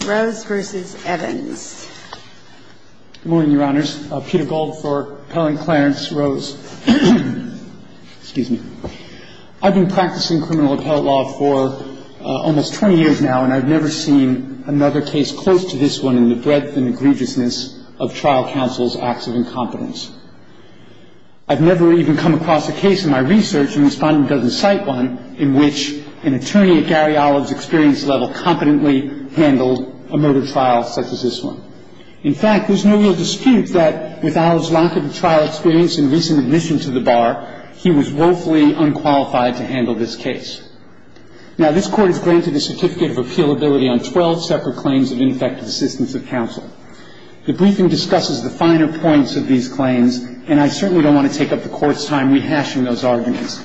Good morning, Your Honors. Peter Gold for Appellant Clarence Rose. Excuse me. I've been practicing criminal appellate law for almost 20 years now, and I've never seen another case close to this one in the breadth and egregiousness of trial counsel's acts of incompetence. I've never even come across a case in my research, and the Respondent doesn't cite one, in which an attorney at Gary Olive's experience level competently handled a murder trial such as this one. In fact, there's no real dispute that with Olive's lack of trial experience and recent admission to the bar, he was woefully unqualified to handle this case. Now, this Court has granted a certificate of appealability on 12 separate claims of ineffective assistance of counsel. The briefing discusses the finer points of these claims, and I certainly don't want to take up the Court's time rehashing those arguments.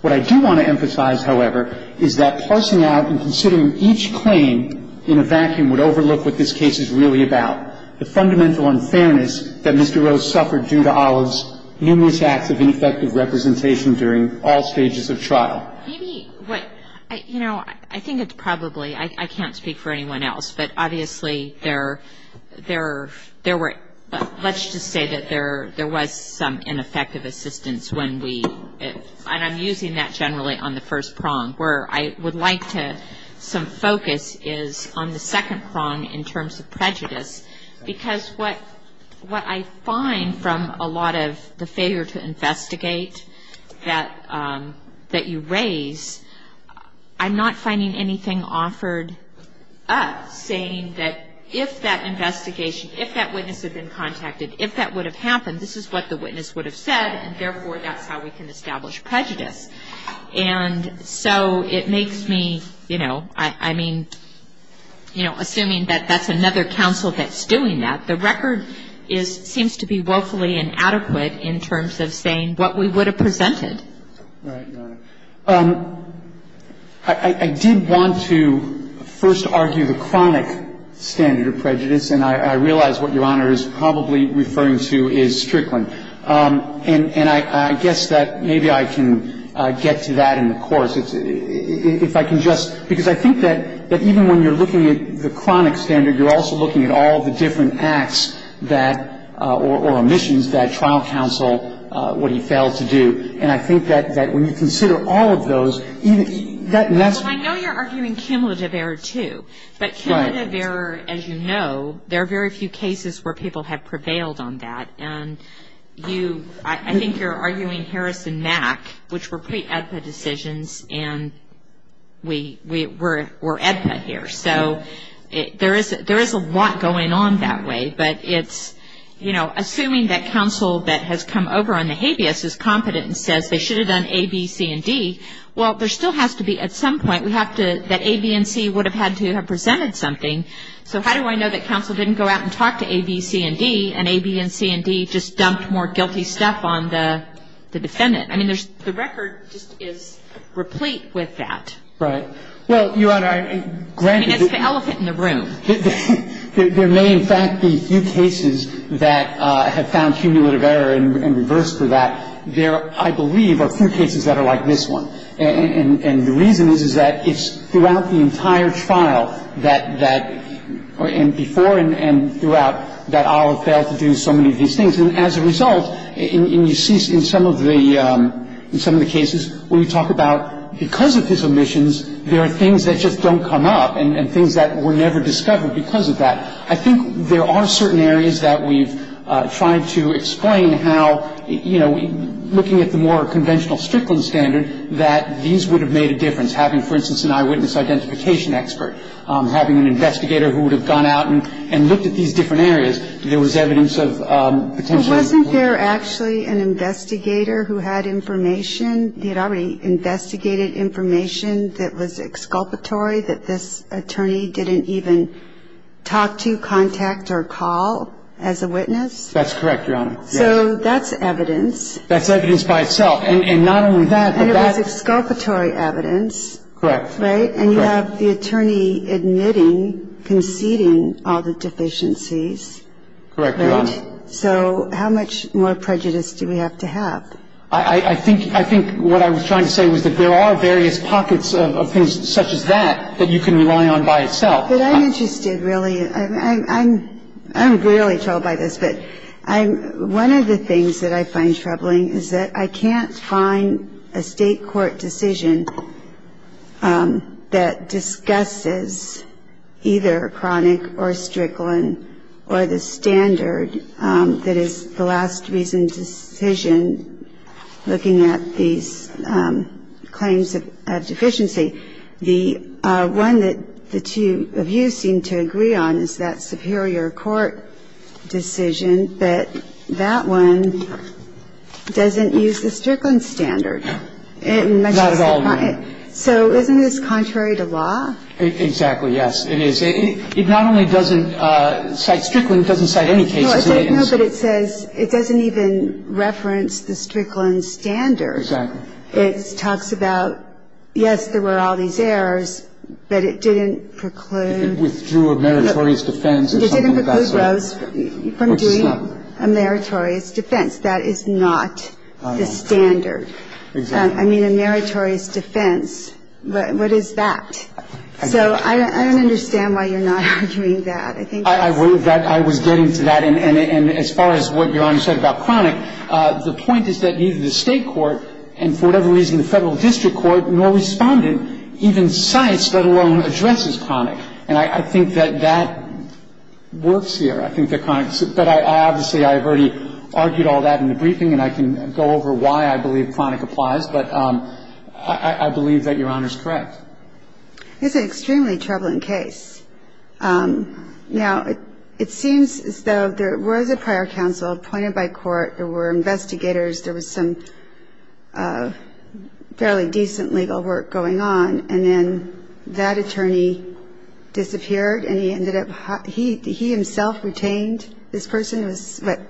What I do want to emphasize, however, is that parsing out and considering each claim in a vacuum would overlook what this case is really about, the fundamental unfairness that Mr. Rose suffered due to Olive's numerous acts of ineffective representation during all stages of trial. Maybe what, you know, I think it's probably, I can't speak for anyone else, but obviously there were, let's just say that there was some ineffective assistance when we, and I'm using that generally on the first prong, where I would like to, some focus is on the second prong in terms of prejudice, because what I find from a lot of the failure to investigate that you raise, I'm not finding anything offered up saying that if that investigation, if that witness had been contacted, if that would have happened, this is what the witness would have said, and therefore that's how we can establish prejudice. And so it makes me, you know, I mean, you know, assuming that that's another counsel that's doing that, the record seems to be woefully inadequate in terms of saying what we would have presented. All right, Your Honor. I did want to first argue the chronic standard of prejudice, and I realize what Your Honor is probably referring to is Strickland. And I guess that maybe I can get to that in the course, if I can just, because I think that even when you're looking at the chronic standard, you're also looking at all the different acts that, or omissions that trial counsel, what he failed to do. And I think that when you consider all of those, even, that's. Well, I know you're arguing cumulative error, too. Right. Well, cumulative error, as you know, there are very few cases where people have prevailed on that. And you, I think you're arguing Harris and Mack, which were pre-AEDPA decisions, and we're AEDPA here. So there is a lot going on that way. But it's, you know, assuming that counsel that has come over on the habeas is competent and says they should have done A, B, C, and D, well, there still has to be at some point, we have to, that A, B, and C would have had to have presented something. So how do I know that counsel didn't go out and talk to A, B, C, and D, and A, B, and C, and D just dumped more guilty stuff on the defendant? I mean, there's, the record just is replete with that. Right. Well, Your Honor, granted. I mean, it's the elephant in the room. There may, in fact, be few cases that have found cumulative error and reversed for that. There, I believe, are few cases that are like this one. And the reason is, is that it's throughout the entire trial that, that, and before and throughout, that Olive failed to do so many of these things. And as a result, and you see in some of the cases where we talk about because of his omissions, there are things that just don't come up and things that were never discovered because of that. I think there are certain areas that we've tried to explain how, you know, looking at the more conventional Strickland standard, that these would have made a difference. Having, for instance, an eyewitness identification expert, having an investigator who would have gone out and looked at these different areas, there was evidence of potential. But wasn't there actually an investigator who had information, he had already investigated information that was exculpatory, that this attorney didn't even talk to, contact, or call as a witness? That's correct, Your Honor. So that's evidence. That's evidence by itself. And not only that, but that's. And it was exculpatory evidence. Correct. Right? And you have the attorney admitting, conceding all the deficiencies. Correct, Your Honor. Right? So how much more prejudice do we have to have? I think what I was trying to say was that there are various pockets of things such as that, that you can rely on by itself. But I'm interested, really. I'm really troubled by this. But one of the things that I find troubling is that I can't find a State court decision that discusses or Strickland or the standard that is the last reason decision looking at these claims of deficiency. The one that the two of you seem to agree on is that superior court decision, but that one doesn't use the Strickland standard. No. Not at all, no. So isn't this contrary to law? Exactly, yes. It is. It not only doesn't cite Strickland, it doesn't cite any case. No, but it says it doesn't even reference the Strickland standard. Exactly. It talks about, yes, there were all these errors, but it didn't preclude. It withdrew a meritorious defense. It didn't preclude Rose from doing a meritorious defense. That is not the standard. Exactly. I mean, a meritorious defense. What is that? So I don't understand why you're not agreeing to that. I think that's... I was getting to that. And as far as what Your Honor said about Cronick, the point is that neither the State court and for whatever reason the Federal district court nor Respondent even cites, let alone addresses Cronick. And I think that that works here. I think that Cronick's – but obviously I've already argued all that in the briefing and I can go over why I believe Cronick applies. But I believe that Your Honor's correct. It's an extremely troubling case. Now, it seems as though there was a prior counsel appointed by court. There were investigators. There was some fairly decent legal work going on. And then that attorney disappeared and he ended up – he himself retained this person. It was, what,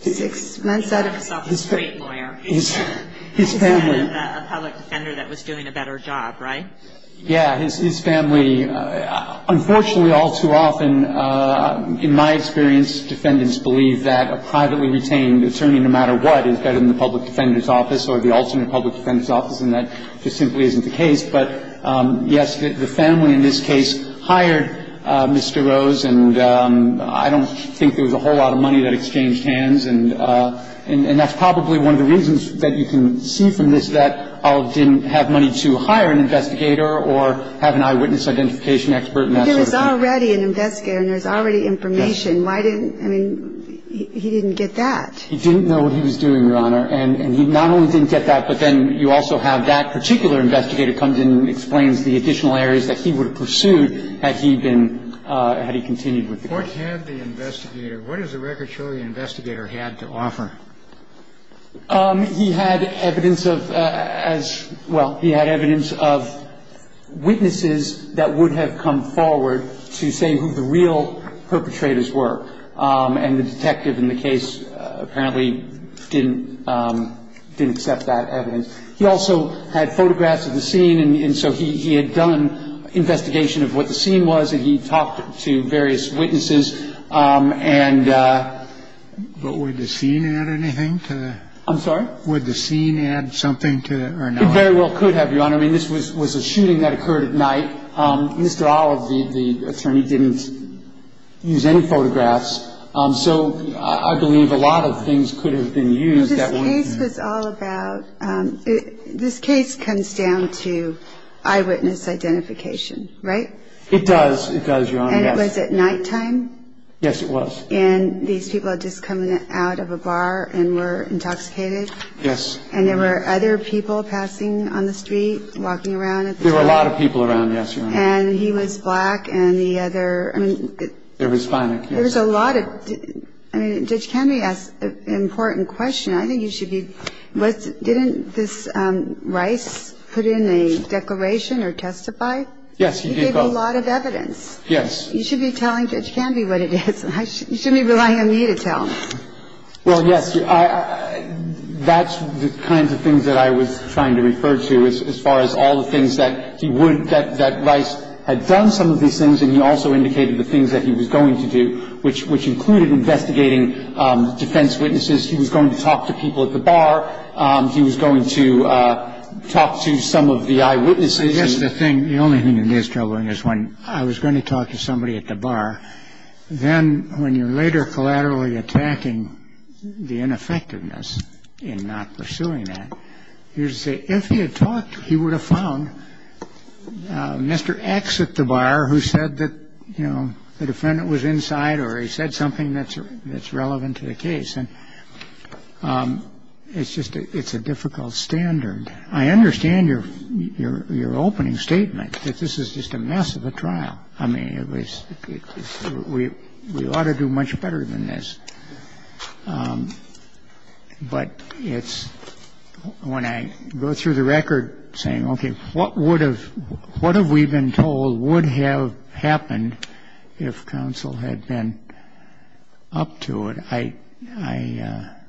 six months out of his term? He had himself a straight lawyer. His family. A public defender that was doing a better job, right? Yeah. His family. Unfortunately, all too often, in my experience, defendants believe that a privately retained attorney no matter what is better than the public defender's office or the alternate public defender's office. And that just simply isn't the case. But, yes, the family in this case hired Mr. Rose. And I don't think there was a whole lot of money that exchanged hands. And that's probably one of the reasons that you can see from this that Olive didn't have money to hire an investigator or have an eyewitness identification expert and that sort of thing. But there was already an investigator and there was already information. Why didn't – I mean, he didn't get that. He didn't know what he was doing, Your Honor. And he not only didn't get that, but then you also have that particular investigator comes in and explains the additional areas that he would have pursued had he been – had he continued with the case. What had the investigator – what does the record show the investigator had to offer? He had evidence of as – well, he had evidence of witnesses that would have come forward to say who the real perpetrators were. And the detective in the case apparently didn't – didn't accept that evidence. He also had photographs of the scene. And so he had done investigation of what the scene was and he talked to various witnesses. And – But would the scene add anything to the – I'm sorry? Would the scene add something to it or not? It very well could have, Your Honor. I mean, this was a shooting that occurred at night. Mr. Olive, the attorney, didn't use any photographs. So I believe a lot of things could have been used. This case was all about – this case comes down to eyewitness identification, right? It does. It does, Your Honor. And it was at nighttime? Yes, it was. And these people had just come out of a bar and were intoxicated? Yes. And there were other people passing on the street, walking around at the time? There were a lot of people around, yes, Your Honor. And he was black and the other – I mean – It was fine. There was a lot of – I mean, Judge Kennedy asked an important question. I think you should be – didn't this Rice put in a declaration or testify? Yes, he did. He gave a lot of evidence. Yes. You should be telling Judge Kennedy what it is. You shouldn't be relying on me to tell. Well, yes. That's the kinds of things that I was trying to refer to as far as all the things that he would – that Rice had done some of these things, and he also indicated the things that he was going to do, which included investigating defense witnesses. He was going to talk to people at the bar. He was going to talk to some of the eyewitnesses. I guess the thing – the only thing that is troubling is when I was going to talk to somebody at the bar, then when you're later collaterally attacking the ineffectiveness in not pursuing that, you say if he had talked, he would have found Mr. X at the bar who said that, you know, the defendant was inside or he said something that's relevant to the case. And it's just – it's a difficult standard. I understand your opening statement that this is just a mess of a trial. I mean, it was – we ought to do much better than this. But it's – when I go through the record saying, okay, what would have – what have we been told would have happened if counsel had been up to it, I –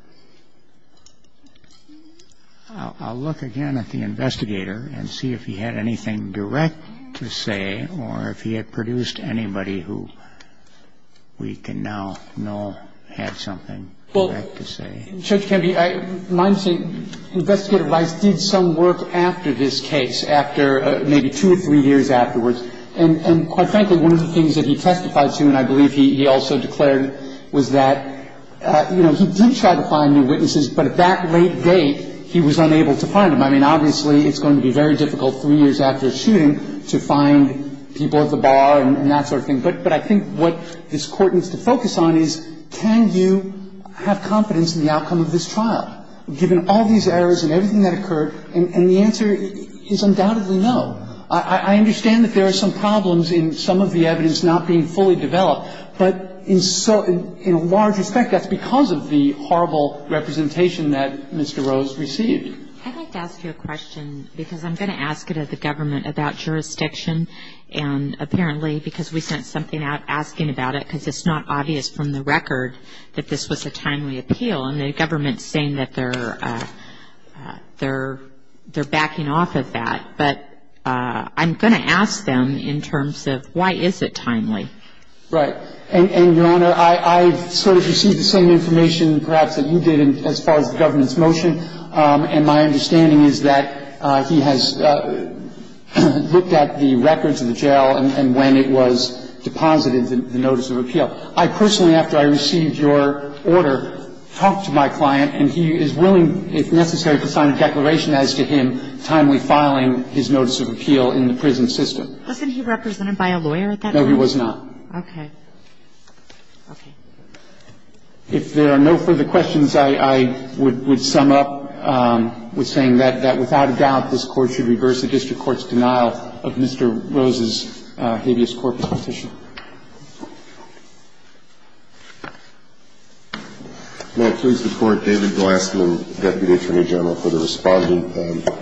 I'll look again at the investigator and see if he had anything direct to say or if he had produced anybody who we can now know had something direct to say. Well, Judge Campbell, I'm saying Investigator Rice did some work after this case, after maybe two or three years afterwards. And quite frankly, one of the things that he testified to, and I believe he also declared, was that, you know, he did try to find new witnesses, but at that late date, he was unable to find them. I mean, obviously, it's going to be very difficult three years after a shooting to find people at the bar and that sort of thing. But I think what this Court needs to focus on is can you have confidence in the outcome of this trial, given all these errors and everything that occurred? And the answer is undoubtedly no. I understand that there are some problems in some of the evidence not being fully developed. But in a large respect, that's because of the horrible representation that Mr. Rose received. I'd like to ask you a question, because I'm going to ask it of the government about jurisdiction. And apparently, because we sent something out asking about it, because it's not obvious from the record that this was a timely appeal, and the government is saying that they're backing off of that. But I'm going to ask them in terms of why is it timely? Right. And, Your Honor, I sort of received the same information perhaps that you did as far as the government's motion. And my understanding is that he has looked at the records of the jail and when it was deposited, the notice of appeal. I personally, after I received your order, talked to my client and he is willing, if necessary, to sign a declaration as to him timely filing his notice of appeal in the prison system. Wasn't he represented by a lawyer at that time? No, he was not. Okay. Okay. If there are no further questions, I would sum up with saying that without a doubt, this Court should reverse the district court's denial of Mr. Rose's habeas corpus petition. May I please report, David Glassman, Deputy Attorney General, for the respondent.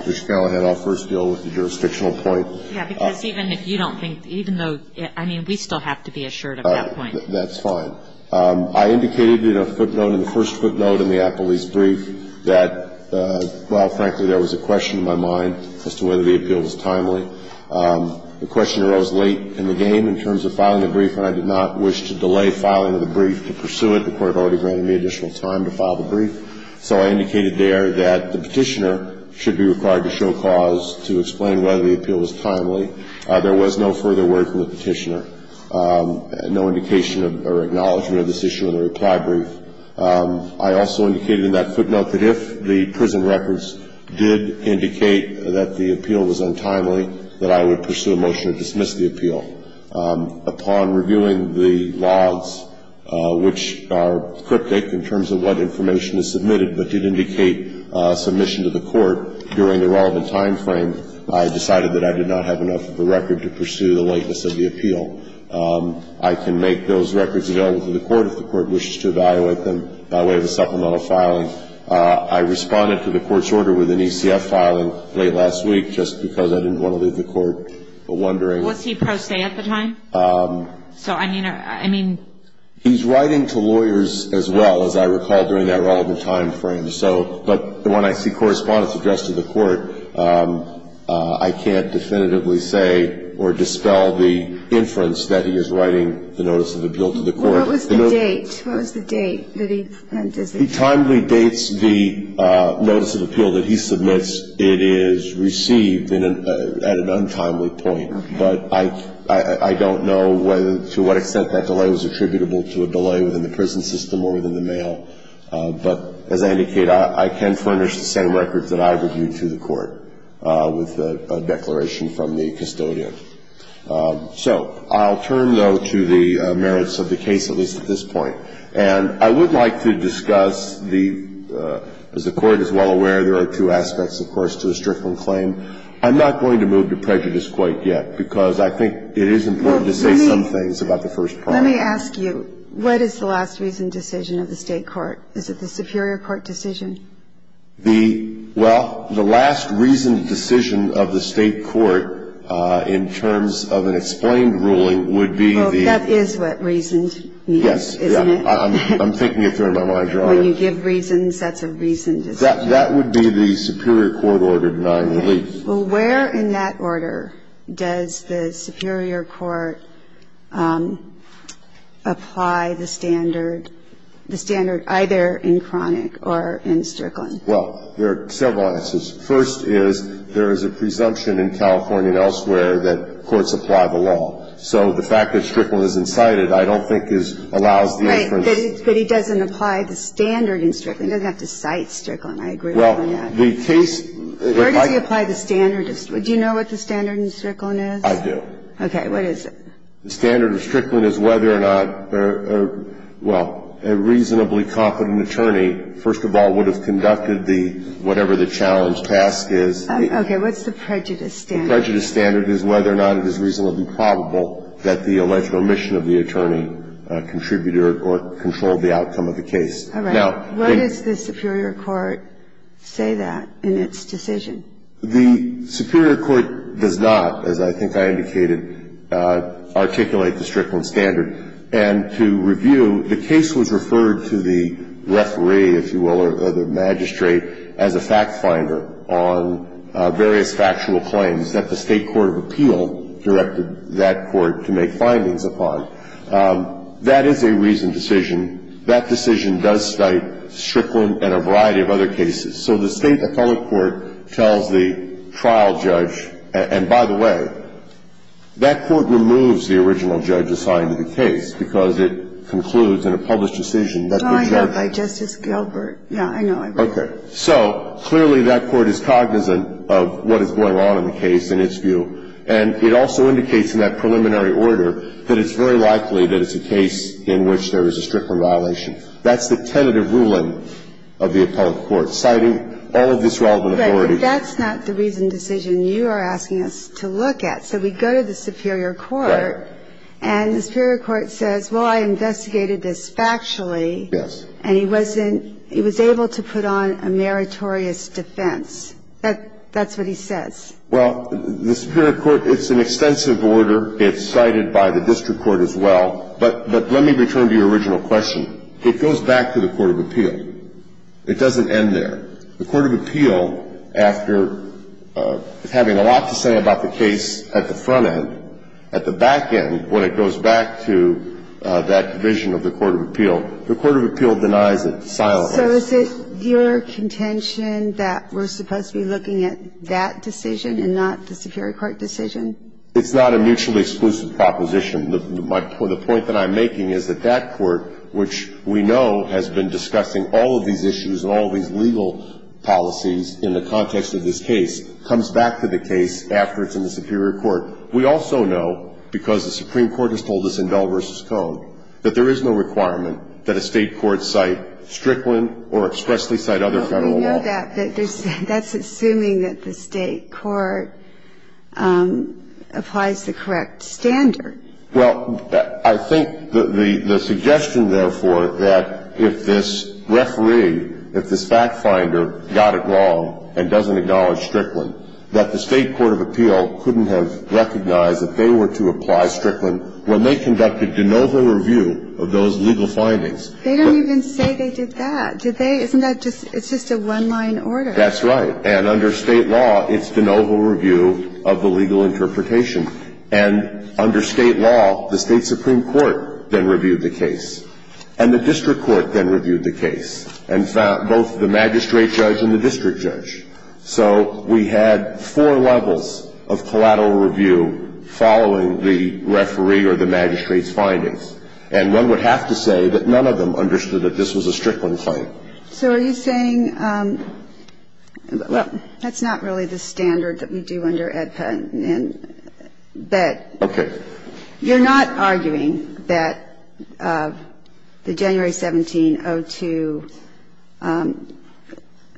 Ms. Scala had our first deal with the jurisdictional point. Yes, because even if you don't think, even though, I mean, we still have to be assured of that point. That's fine. I indicated in a footnote, in the first footnote in the Applebee's brief, that while, frankly, there was a question in my mind as to whether the appeal was timely, the question arose late in the game in terms of filing the brief, and I did not wish to delay filing of the brief to pursue it. The Court had already granted me additional time to file the brief. So I indicated there that the petitioner should be required to show cause to explain whether the appeal was timely. There was no further word from the petitioner, no indication or acknowledgement of this issue in the reply brief. I also indicated in that footnote that if the prison records did indicate that the appeal was untimely, that I would pursue a motion to dismiss the appeal. Upon reviewing the logs, which are cryptic in terms of what information is submitted, but did indicate submission to the Court during the relevant timeframe, I decided that I did not have enough of a record to pursue the likeness of the appeal. I can make those records available to the Court if the Court wishes to evaluate them by way of a supplemental filing. I responded to the Court's order with an ECF filing late last week, just because I didn't want to leave the Court wondering. Was he pro se at the time? So, I mean... He's writing to lawyers as well, as I recall, during that relevant timeframe. But when I see correspondence addressed to the Court, I can't definitively say or dispel the inference that he is writing the notice of appeal to the Court. What was the date? What was the date that he sent this? He timely dates the notice of appeal that he submits. It is received at an untimely point. But I don't know to what extent that delay was attributable to a delay within the prison system or within the mail. But as I indicated, I can furnish the same records that I reviewed to the Court with a declaration from the custodian. So, I'll turn, though, to the merits of the case, at least at this point. And I would like to discuss the, as the Court is well aware, there are two aspects, of course, to a Strickland claim. I'm not going to move to prejudice quite yet, because I think it is important to say some things about the first part. Let me ask you, what is the last reasoned decision of the State court? Is it the superior court decision? The, well, the last reasoned decision of the State court in terms of an explained ruling would be the. Well, that is what reasoned means, isn't it? Yes. I'm thinking of throwing my mind around it. When you give reasons, that's a reasoned decision. That would be the superior court order denying relief. Okay. Well, where in that order does the superior court apply the standard, the standard either in Cronick or in Strickland? Well, there are several answers. First is, there is a presumption in California and elsewhere that courts apply the law. So the fact that Strickland is incited, I don't think, allows the inference. But he doesn't apply the standard in Strickland. He doesn't have to cite Strickland. I agree with that. Well, the case. Where does he apply the standard? Do you know what the standard in Strickland is? I do. What is it? The standard in Strickland is whether or not, well, a reasonably competent attorney, first of all, would have conducted the, whatever the challenge task is. Okay. What's the prejudice standard? The prejudice standard is whether or not it is reasonably probable that the alleged omission of the attorney contributed or controlled the outcome of the case. All right. What does the superior court say that in its decision? The superior court does not, as I think I indicated, articulate the Strickland standard. And to review, the case was referred to the referee, if you will, or the magistrate, as a fact finder on various factual claims that the state court of appeal directed that court to make findings upon. That is a reasoned decision. That decision does cite Strickland and a variety of other cases. So the state appellate court tells the trial judge, and by the way, that court removes the original judge assigned to the case because it concludes in a published decision that the judge. Well, I know by Justice Gilbert. Yeah, I know. Okay. So clearly that court is cognizant of what is going on in the case in its view, and it also indicates in that preliminary order that it's very likely that it's a case in which there is a Strickland violation. That's the tentative ruling of the appellate court, citing all of these relevant authorities. Right. But that's not the reasoned decision you are asking us to look at. So we go to the superior court. Right. And the superior court says, well, I investigated this factually. Yes. And he wasn't – he was able to put on a meritorious defense. That's what he says. Well, the superior court, it's an extensive order. It's cited by the district court as well. But let me return to your original question. It goes back to the court of appeal. It doesn't end there. The court of appeal, after having a lot to say about the case at the front end, at the back end, when it goes back to that vision of the court of appeal, the court of appeal denies it silently. So is it your contention that we're supposed to be looking at that decision and not the superior court decision? It's not a mutually exclusive proposition. The point that I'm making is that that court, which we know has been discussing all of these issues and all of these legal policies in the context of this case, comes back to the case after it's in the superior court. We also know, because the Supreme Court has told us in Bell v. Cohn, that there is no requirement that a state court cite Strickland or expressly cite other federal law. Well, we know that, but that's assuming that the state court applies the correct standard. Well, I think the suggestion, therefore, that if this referee, if this fact finder got it wrong and doesn't acknowledge Strickland, that the state court of appeal couldn't have recognized that they were to apply Strickland when they conducted de novo review of those legal findings. They don't even say they did that. Did they? Isn't that just a one-line order? That's right. And under State law, it's de novo review of the legal interpretation. And under State law, the State supreme court then reviewed the case. And the district court then reviewed the case and found both the magistrate judge and the district judge. findings. And one would have to say that none of them understood that this was a Strickland claim. So are you saying that's not really the standard that we do under AEDPA? Okay. You're not arguing that the January 1702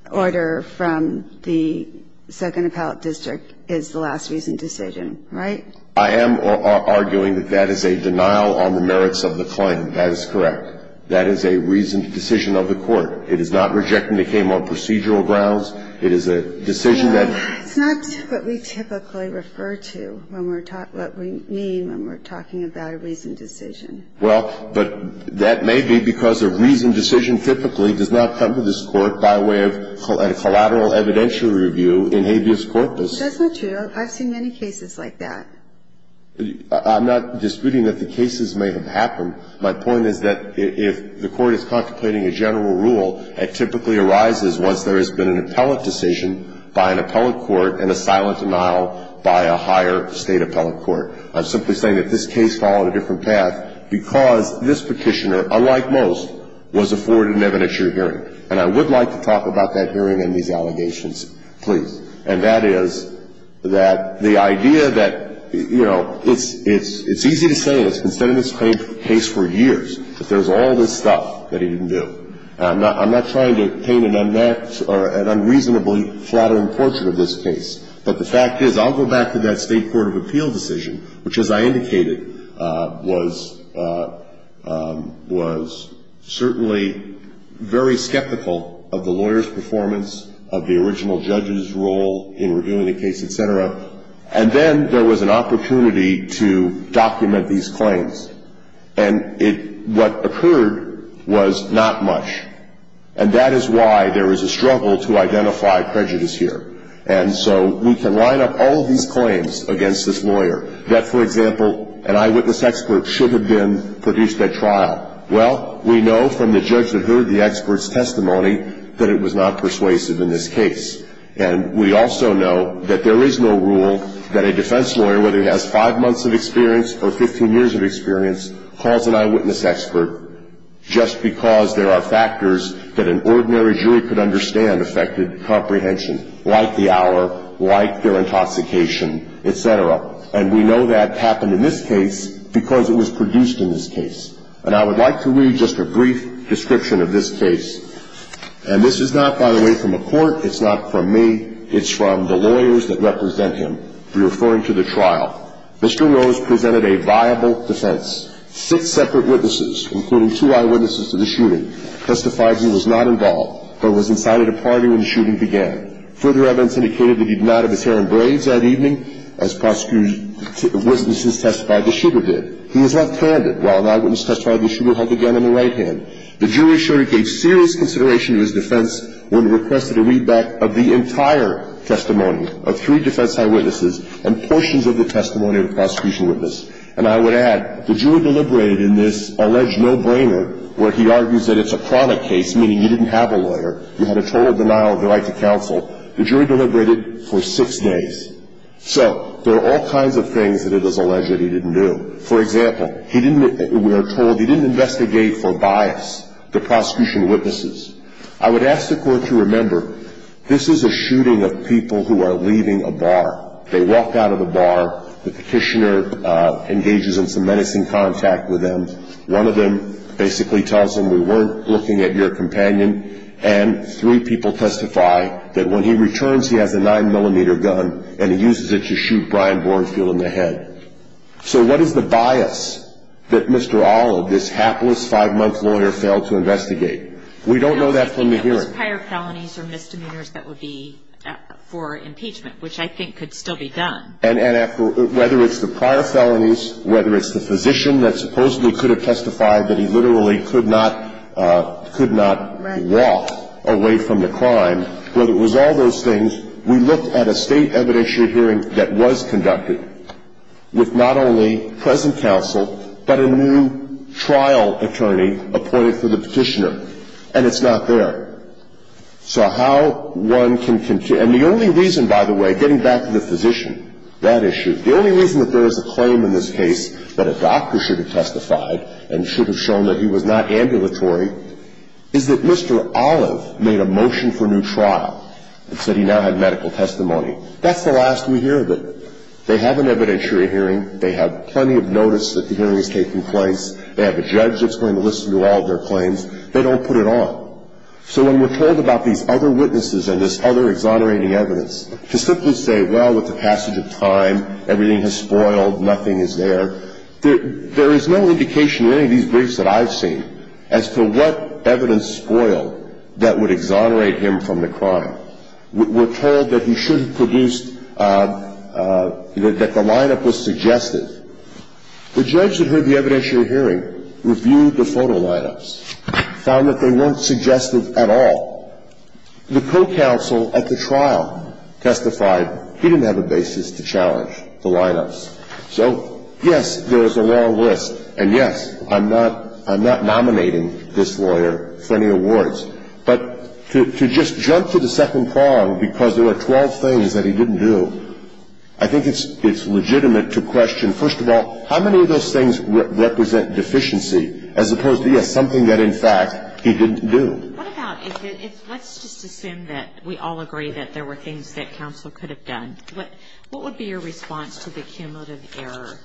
order from the Second Appellate District is the last recent decision, right? I am arguing that that is a denial on the merits of the claim. That is correct. That is a recent decision of the court. It is not rejecting the claim on procedural grounds. It is a decision that ---- No. It's not what we typically refer to when we're talking about what we mean when we're talking about a recent decision. Well, but that may be because a recent decision typically does not come to this court by way of a collateral evidentiary review in habeas corpus. It doesn't, Judge. I've seen many cases like that. I'm not disputing that the cases may have happened. My point is that if the court is contemplating a general rule, it typically arises once there has been an appellate decision by an appellate court and a silent denial by a higher state appellate court. I'm simply saying that this case followed a different path because this petitioner, unlike most, was afforded an evidentiary hearing. And I would like to talk about that hearing and these allegations, please. And that is that the idea that, you know, it's easy to say, and it's been said in this case for years, that there's all this stuff that he didn't do. I'm not trying to paint an unreasonably flattering portrait of this case. But the fact is, I'll go back to that State court of appeal decision, which, as I indicated, was certainly very skeptical of the lawyer's performance, of the original judge's role in reviewing the case, et cetera. And then there was an opportunity to document these claims. And what occurred was not much. And that is why there is a struggle to identify prejudice here. And so we can line up all of these claims against this lawyer that, for example, an eyewitness expert should have been produced at trial. Well, we know from the judge that heard the expert's testimony that it was not persuasive in this case. And we also know that there is no rule that a defense lawyer, whether he has five months of experience or 15 years of experience, calls an eyewitness expert just because there are factors that an ordinary jury could understand affected comprehension, like the hour, like their intoxication, et cetera. And we know that happened in this case because it was produced in this case. And I would like to read just a brief description of this case. And this is not, by the way, from a court. It's not from me. It's from the lawyers that represent him. We're referring to the trial. Mr. Rose presented a viable defense. Six separate witnesses, including two eyewitnesses to the shooting, testified he was not involved but was inside at a party when the shooting began. Further evidence indicated that he did not have his hair in braids that evening, as witnesses testified the shooter did. He was left-handed while an eyewitness testified the shooter held a gun in the right hand. The jury showed he gave serious consideration to his defense when requested a readback of the entire testimony of three defense eyewitnesses and portions of the testimony of the prosecution witness. And I would add, the jury deliberated in this alleged no-brainer, where he argues that it's a chronic case, meaning you didn't have a lawyer, you had a total denial of the right to counsel. The jury deliberated for six days. So there are all kinds of things that it is alleged that he didn't do. For example, we are told he didn't investigate for bias, the prosecution witnesses. I would ask the court to remember, this is a shooting of people who are leaving a bar. They walk out of the bar. The petitioner engages in some menacing contact with them. One of them basically tells them, we weren't looking at your companion. And three people testify that when he returns, he has a 9-millimeter gun, and he uses it to shoot Brian Bournefield in the head. So what is the bias that Mr. Olive, this hapless five-month lawyer, failed to investigate? We don't know that from the hearing. It was prior felonies or misdemeanors that would be for impeachment, which I think could still be done. And whether it's the prior felonies, whether it's the physician that supposedly could have testified that he literally could not walk away from the crime, whether it was all those things, we looked at a state evidentiary hearing that was conducted with not only present counsel but a new trial attorney appointed for the petitioner. And it's not there. So how one can continue. And the only reason, by the way, getting back to the physician, that issue, the only reason that there is a claim in this case that a doctor should have testified and should have shown that he was not ambulatory is that Mr. Olive made a motion for new trial and said he now had medical testimony. That's the last we hear of it. They have an evidentiary hearing. They have plenty of notice that the hearing is taking place. They have a judge that's going to listen to all of their claims. They don't put it on. So when we're told about these other witnesses and this other exonerating evidence, to simply say, well, with the passage of time, everything has spoiled, nothing is there, there is no indication in any of these briefs that I've seen as to what evidence spoiled that would exonerate him from the crime. We're told that he should have produced, that the lineup was suggested. The judge that heard the evidentiary hearing reviewed the photo lineups, found that they weren't suggested at all. The co-counsel at the trial testified he didn't have a basis to challenge the lineups. So, yes, there is a long list. And, yes, I'm not nominating this lawyer for any awards. But to just jump to the second prong, because there are 12 things that he didn't do, I think it's legitimate to question, first of all, how many of those things represent deficiency, as opposed to, yes, something that, in fact, he didn't do. What about if let's just assume that we all agree that there were things that counsel could have done. What would be your response to the cumulative error?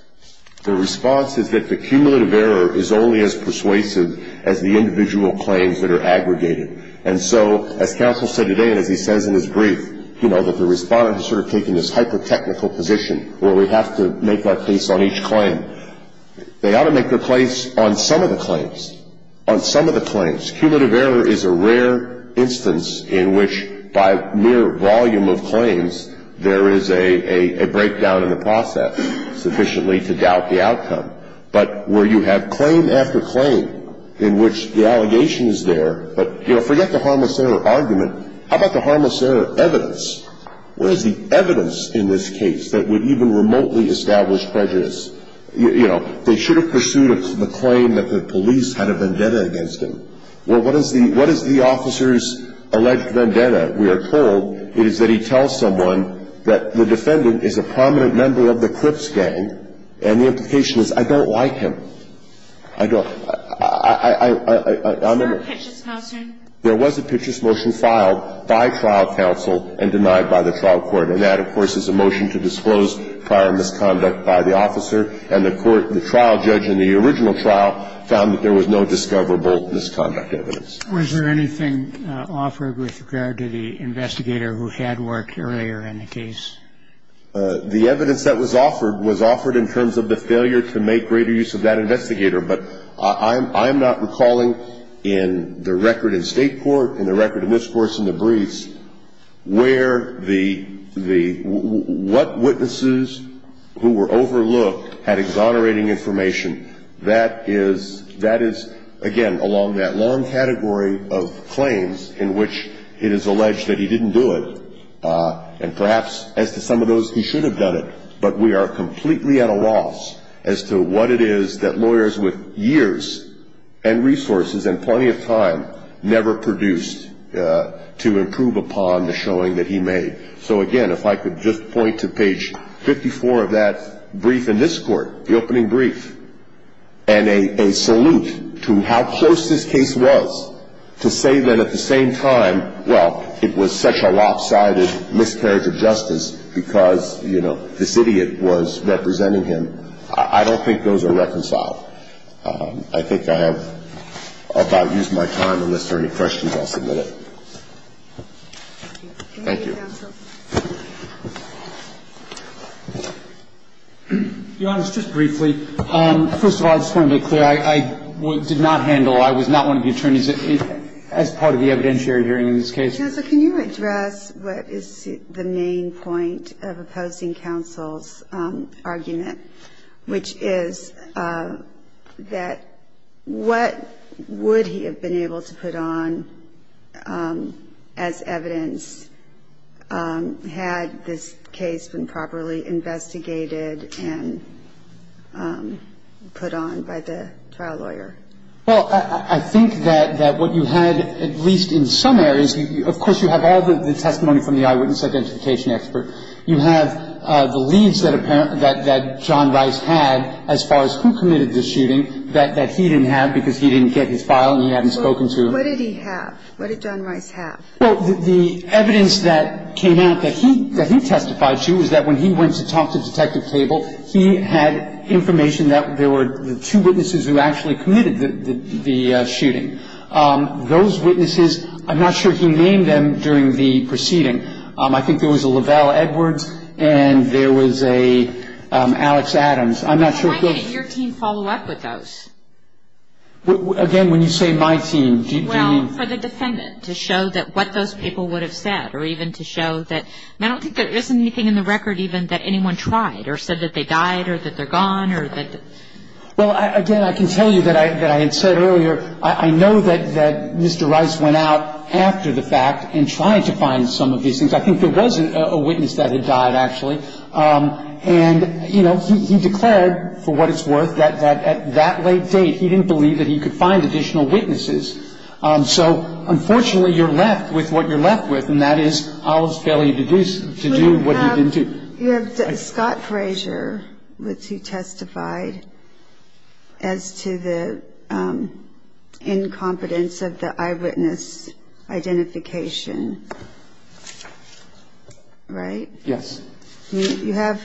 The response is that the cumulative error is only as persuasive as the individual claims that are aggregated. And so, as counsel said today, and as he says in his brief, you know, that the respondent has sort of taken this hyper-technical position where we have to make that case on each claim. They ought to make their case on some of the claims, on some of the claims. Cumulative error is a rare instance in which, by mere volume of claims, there is a breakdown in the process sufficiently to doubt the outcome. But where you have claim after claim in which the allegation is there, but, you know, forget the harmless error argument. How about the harmless error evidence? What is the evidence in this case that would even remotely establish prejudice? You know, they should have pursued the claim that the police had a vendetta against him. Well, what is the officer's alleged vendetta? We are told it is that he tells someone that the defendant is a prominent member of the Clips gang, and the implication is, I don't like him. I don't. I remember. Was there a Pitchess motion? There was a Pitchess motion filed by trial counsel and denied by the trial court. And that, of course, is a motion to disclose prior misconduct by the officer. And the court, the trial judge in the original trial, found that there was no discoverable misconduct evidence. Was there anything offered with regard to the investigator who had worked earlier in the case? The evidence that was offered was offered in terms of the failure to make greater use of that investigator. But I'm not recalling in the record in State court, in the record of this Court's in the briefs, where the what witnesses who were overlooked had exonerating information. That is, again, along that long category of claims in which it is alleged that he didn't do it. And perhaps, as to some of those, he should have done it. But we are completely at a loss as to what it is that lawyers with years and resources and plenty of time never produced to improve upon the showing that he made. So, again, if I could just point to page 54 of that brief in this Court, the opening brief, and a salute to how close this case was, to say that at the same time, well, it was such a lopsided miscarriage of justice because, you know, this idiot was representing him. I don't think those are reconciled. I think I have about used my time, unless there are any questions, I'll submit it. Thank you. Thank you, counsel. Your Honor, just briefly, first of all, I just want to be clear. I did not handle, I was not one of the attorneys as part of the evidentiary hearing in this case. Counsel, can you address what is the main point of opposing counsel's argument, which is that what would he have been able to put on as evidence had this case been properly investigated and put on by the trial lawyer? Well, I think that what you had, at least in some areas, of course you have all the testimony from the eyewitness identification expert. You have the leads that apparently, that John Rice had as far as who committed the shooting that he didn't have because he didn't get his file and he hadn't spoken to him. Well, what did he have? What did John Rice have? Well, the evidence that came out that he testified to is that when he went to talk to Detective Cable, he had information that there were two witnesses who actually committed the shooting. Those witnesses, I'm not sure he named them during the proceeding. I think there was a Lavelle Edwards and there was a Alex Adams. I'm not sure. Why didn't your team follow up with those? Again, when you say my team, do you mean? Well, for the defendant to show that what those people would have said or even to show that. I don't think there is anything in the record even that anyone tried or said that they died or that they're gone or that. Well, again, I can tell you that I had said earlier, I know that Mr. Rice went out after the fact and tried to find some of these things. I think there was a witness that had died, actually. And, you know, he declared, for what it's worth, that at that late date, he didn't believe that he could find additional witnesses. So, unfortunately, you're left with what you're left with, and that is Olive's failure to do what he didn't do. You have Scott Frazier, which he testified as to the incompetence of the eyewitness identification, right? Yes. You have,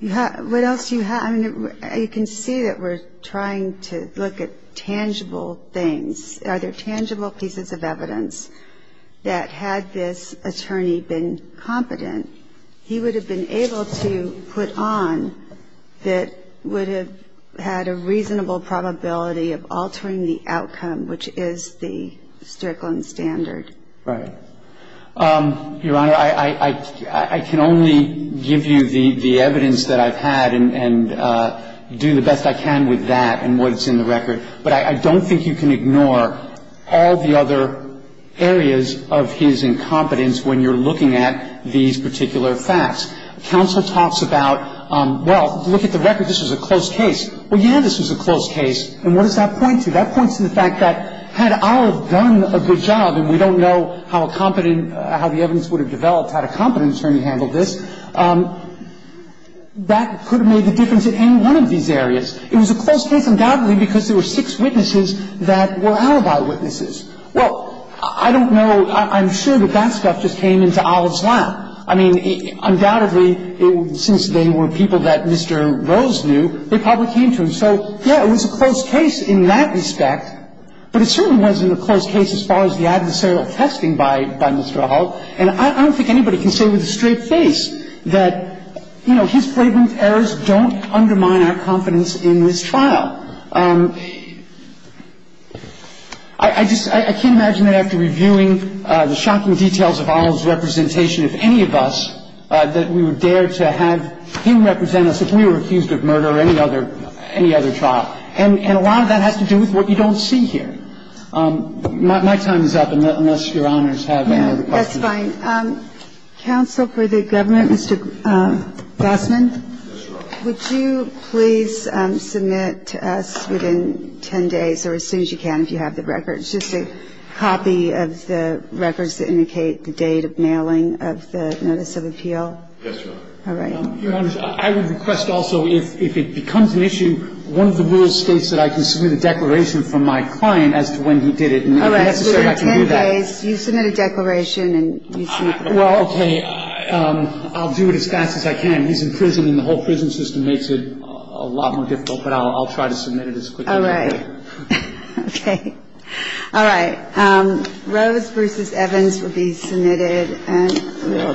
what else do you have? I mean, you can see that we're trying to look at tangible things. Are there tangible pieces of evidence that had this attorney been competent, he would have been able to put on that would have had a reasonable probability of altering the outcome, which is the Strickland standard? Right. Your Honor, I can only give you the evidence that I've had and do the best I can with that and what's in the record. But I don't think you can ignore all the other areas of his incompetence when you're looking at these particular facts. Counsel talks about, well, look at the record. This was a close case. Well, yeah, this was a close case. And what does that point to? That points to the fact that had Olive done a good job, and we don't know how a competent how the evidence would have developed, had a competent attorney handled this, that could have made the difference in any one of these areas. It was a close case, undoubtedly, because there were six witnesses that were Alibi witnesses. Well, I don't know, I'm sure that that stuff just came into Olive's lap. I mean, undoubtedly, since they were people that Mr. Rose knew, they probably came to him. So, yeah, it was a close case in that respect. But it certainly wasn't a close case as far as the adversarial testing by Mr. Olive. And I don't think anybody can say with a straight face that, you know, his flagrant errors don't undermine our confidence in this trial. I just can't imagine that after reviewing the shocking details of Olive's representation, if any of us, that we would dare to have him represent us if we were accused of murder or any other trial. And a lot of that has to do with what you don't see here. My time is up, unless Your Honors have any other questions. Yeah, that's fine. Yes, Your Honor. Would you please submit to us within 10 days or as soon as you can, if you have the records, just a copy of the records that indicate the date of mailing of the notice of appeal? Yes, Your Honor. All right. Your Honors, I would request also if it becomes an issue, one of the rules states that I can submit a declaration from my client as to when he did it. And if necessary, I can do that. All right. Within 10 days, you submit a declaration and you see. Well, okay. I'll do it as fast as I can. He's in prison and the whole prison system makes it a lot more difficult, but I'll try to submit it as quickly as I can. All right. Okay. All right. Rose versus Evans will be submitted.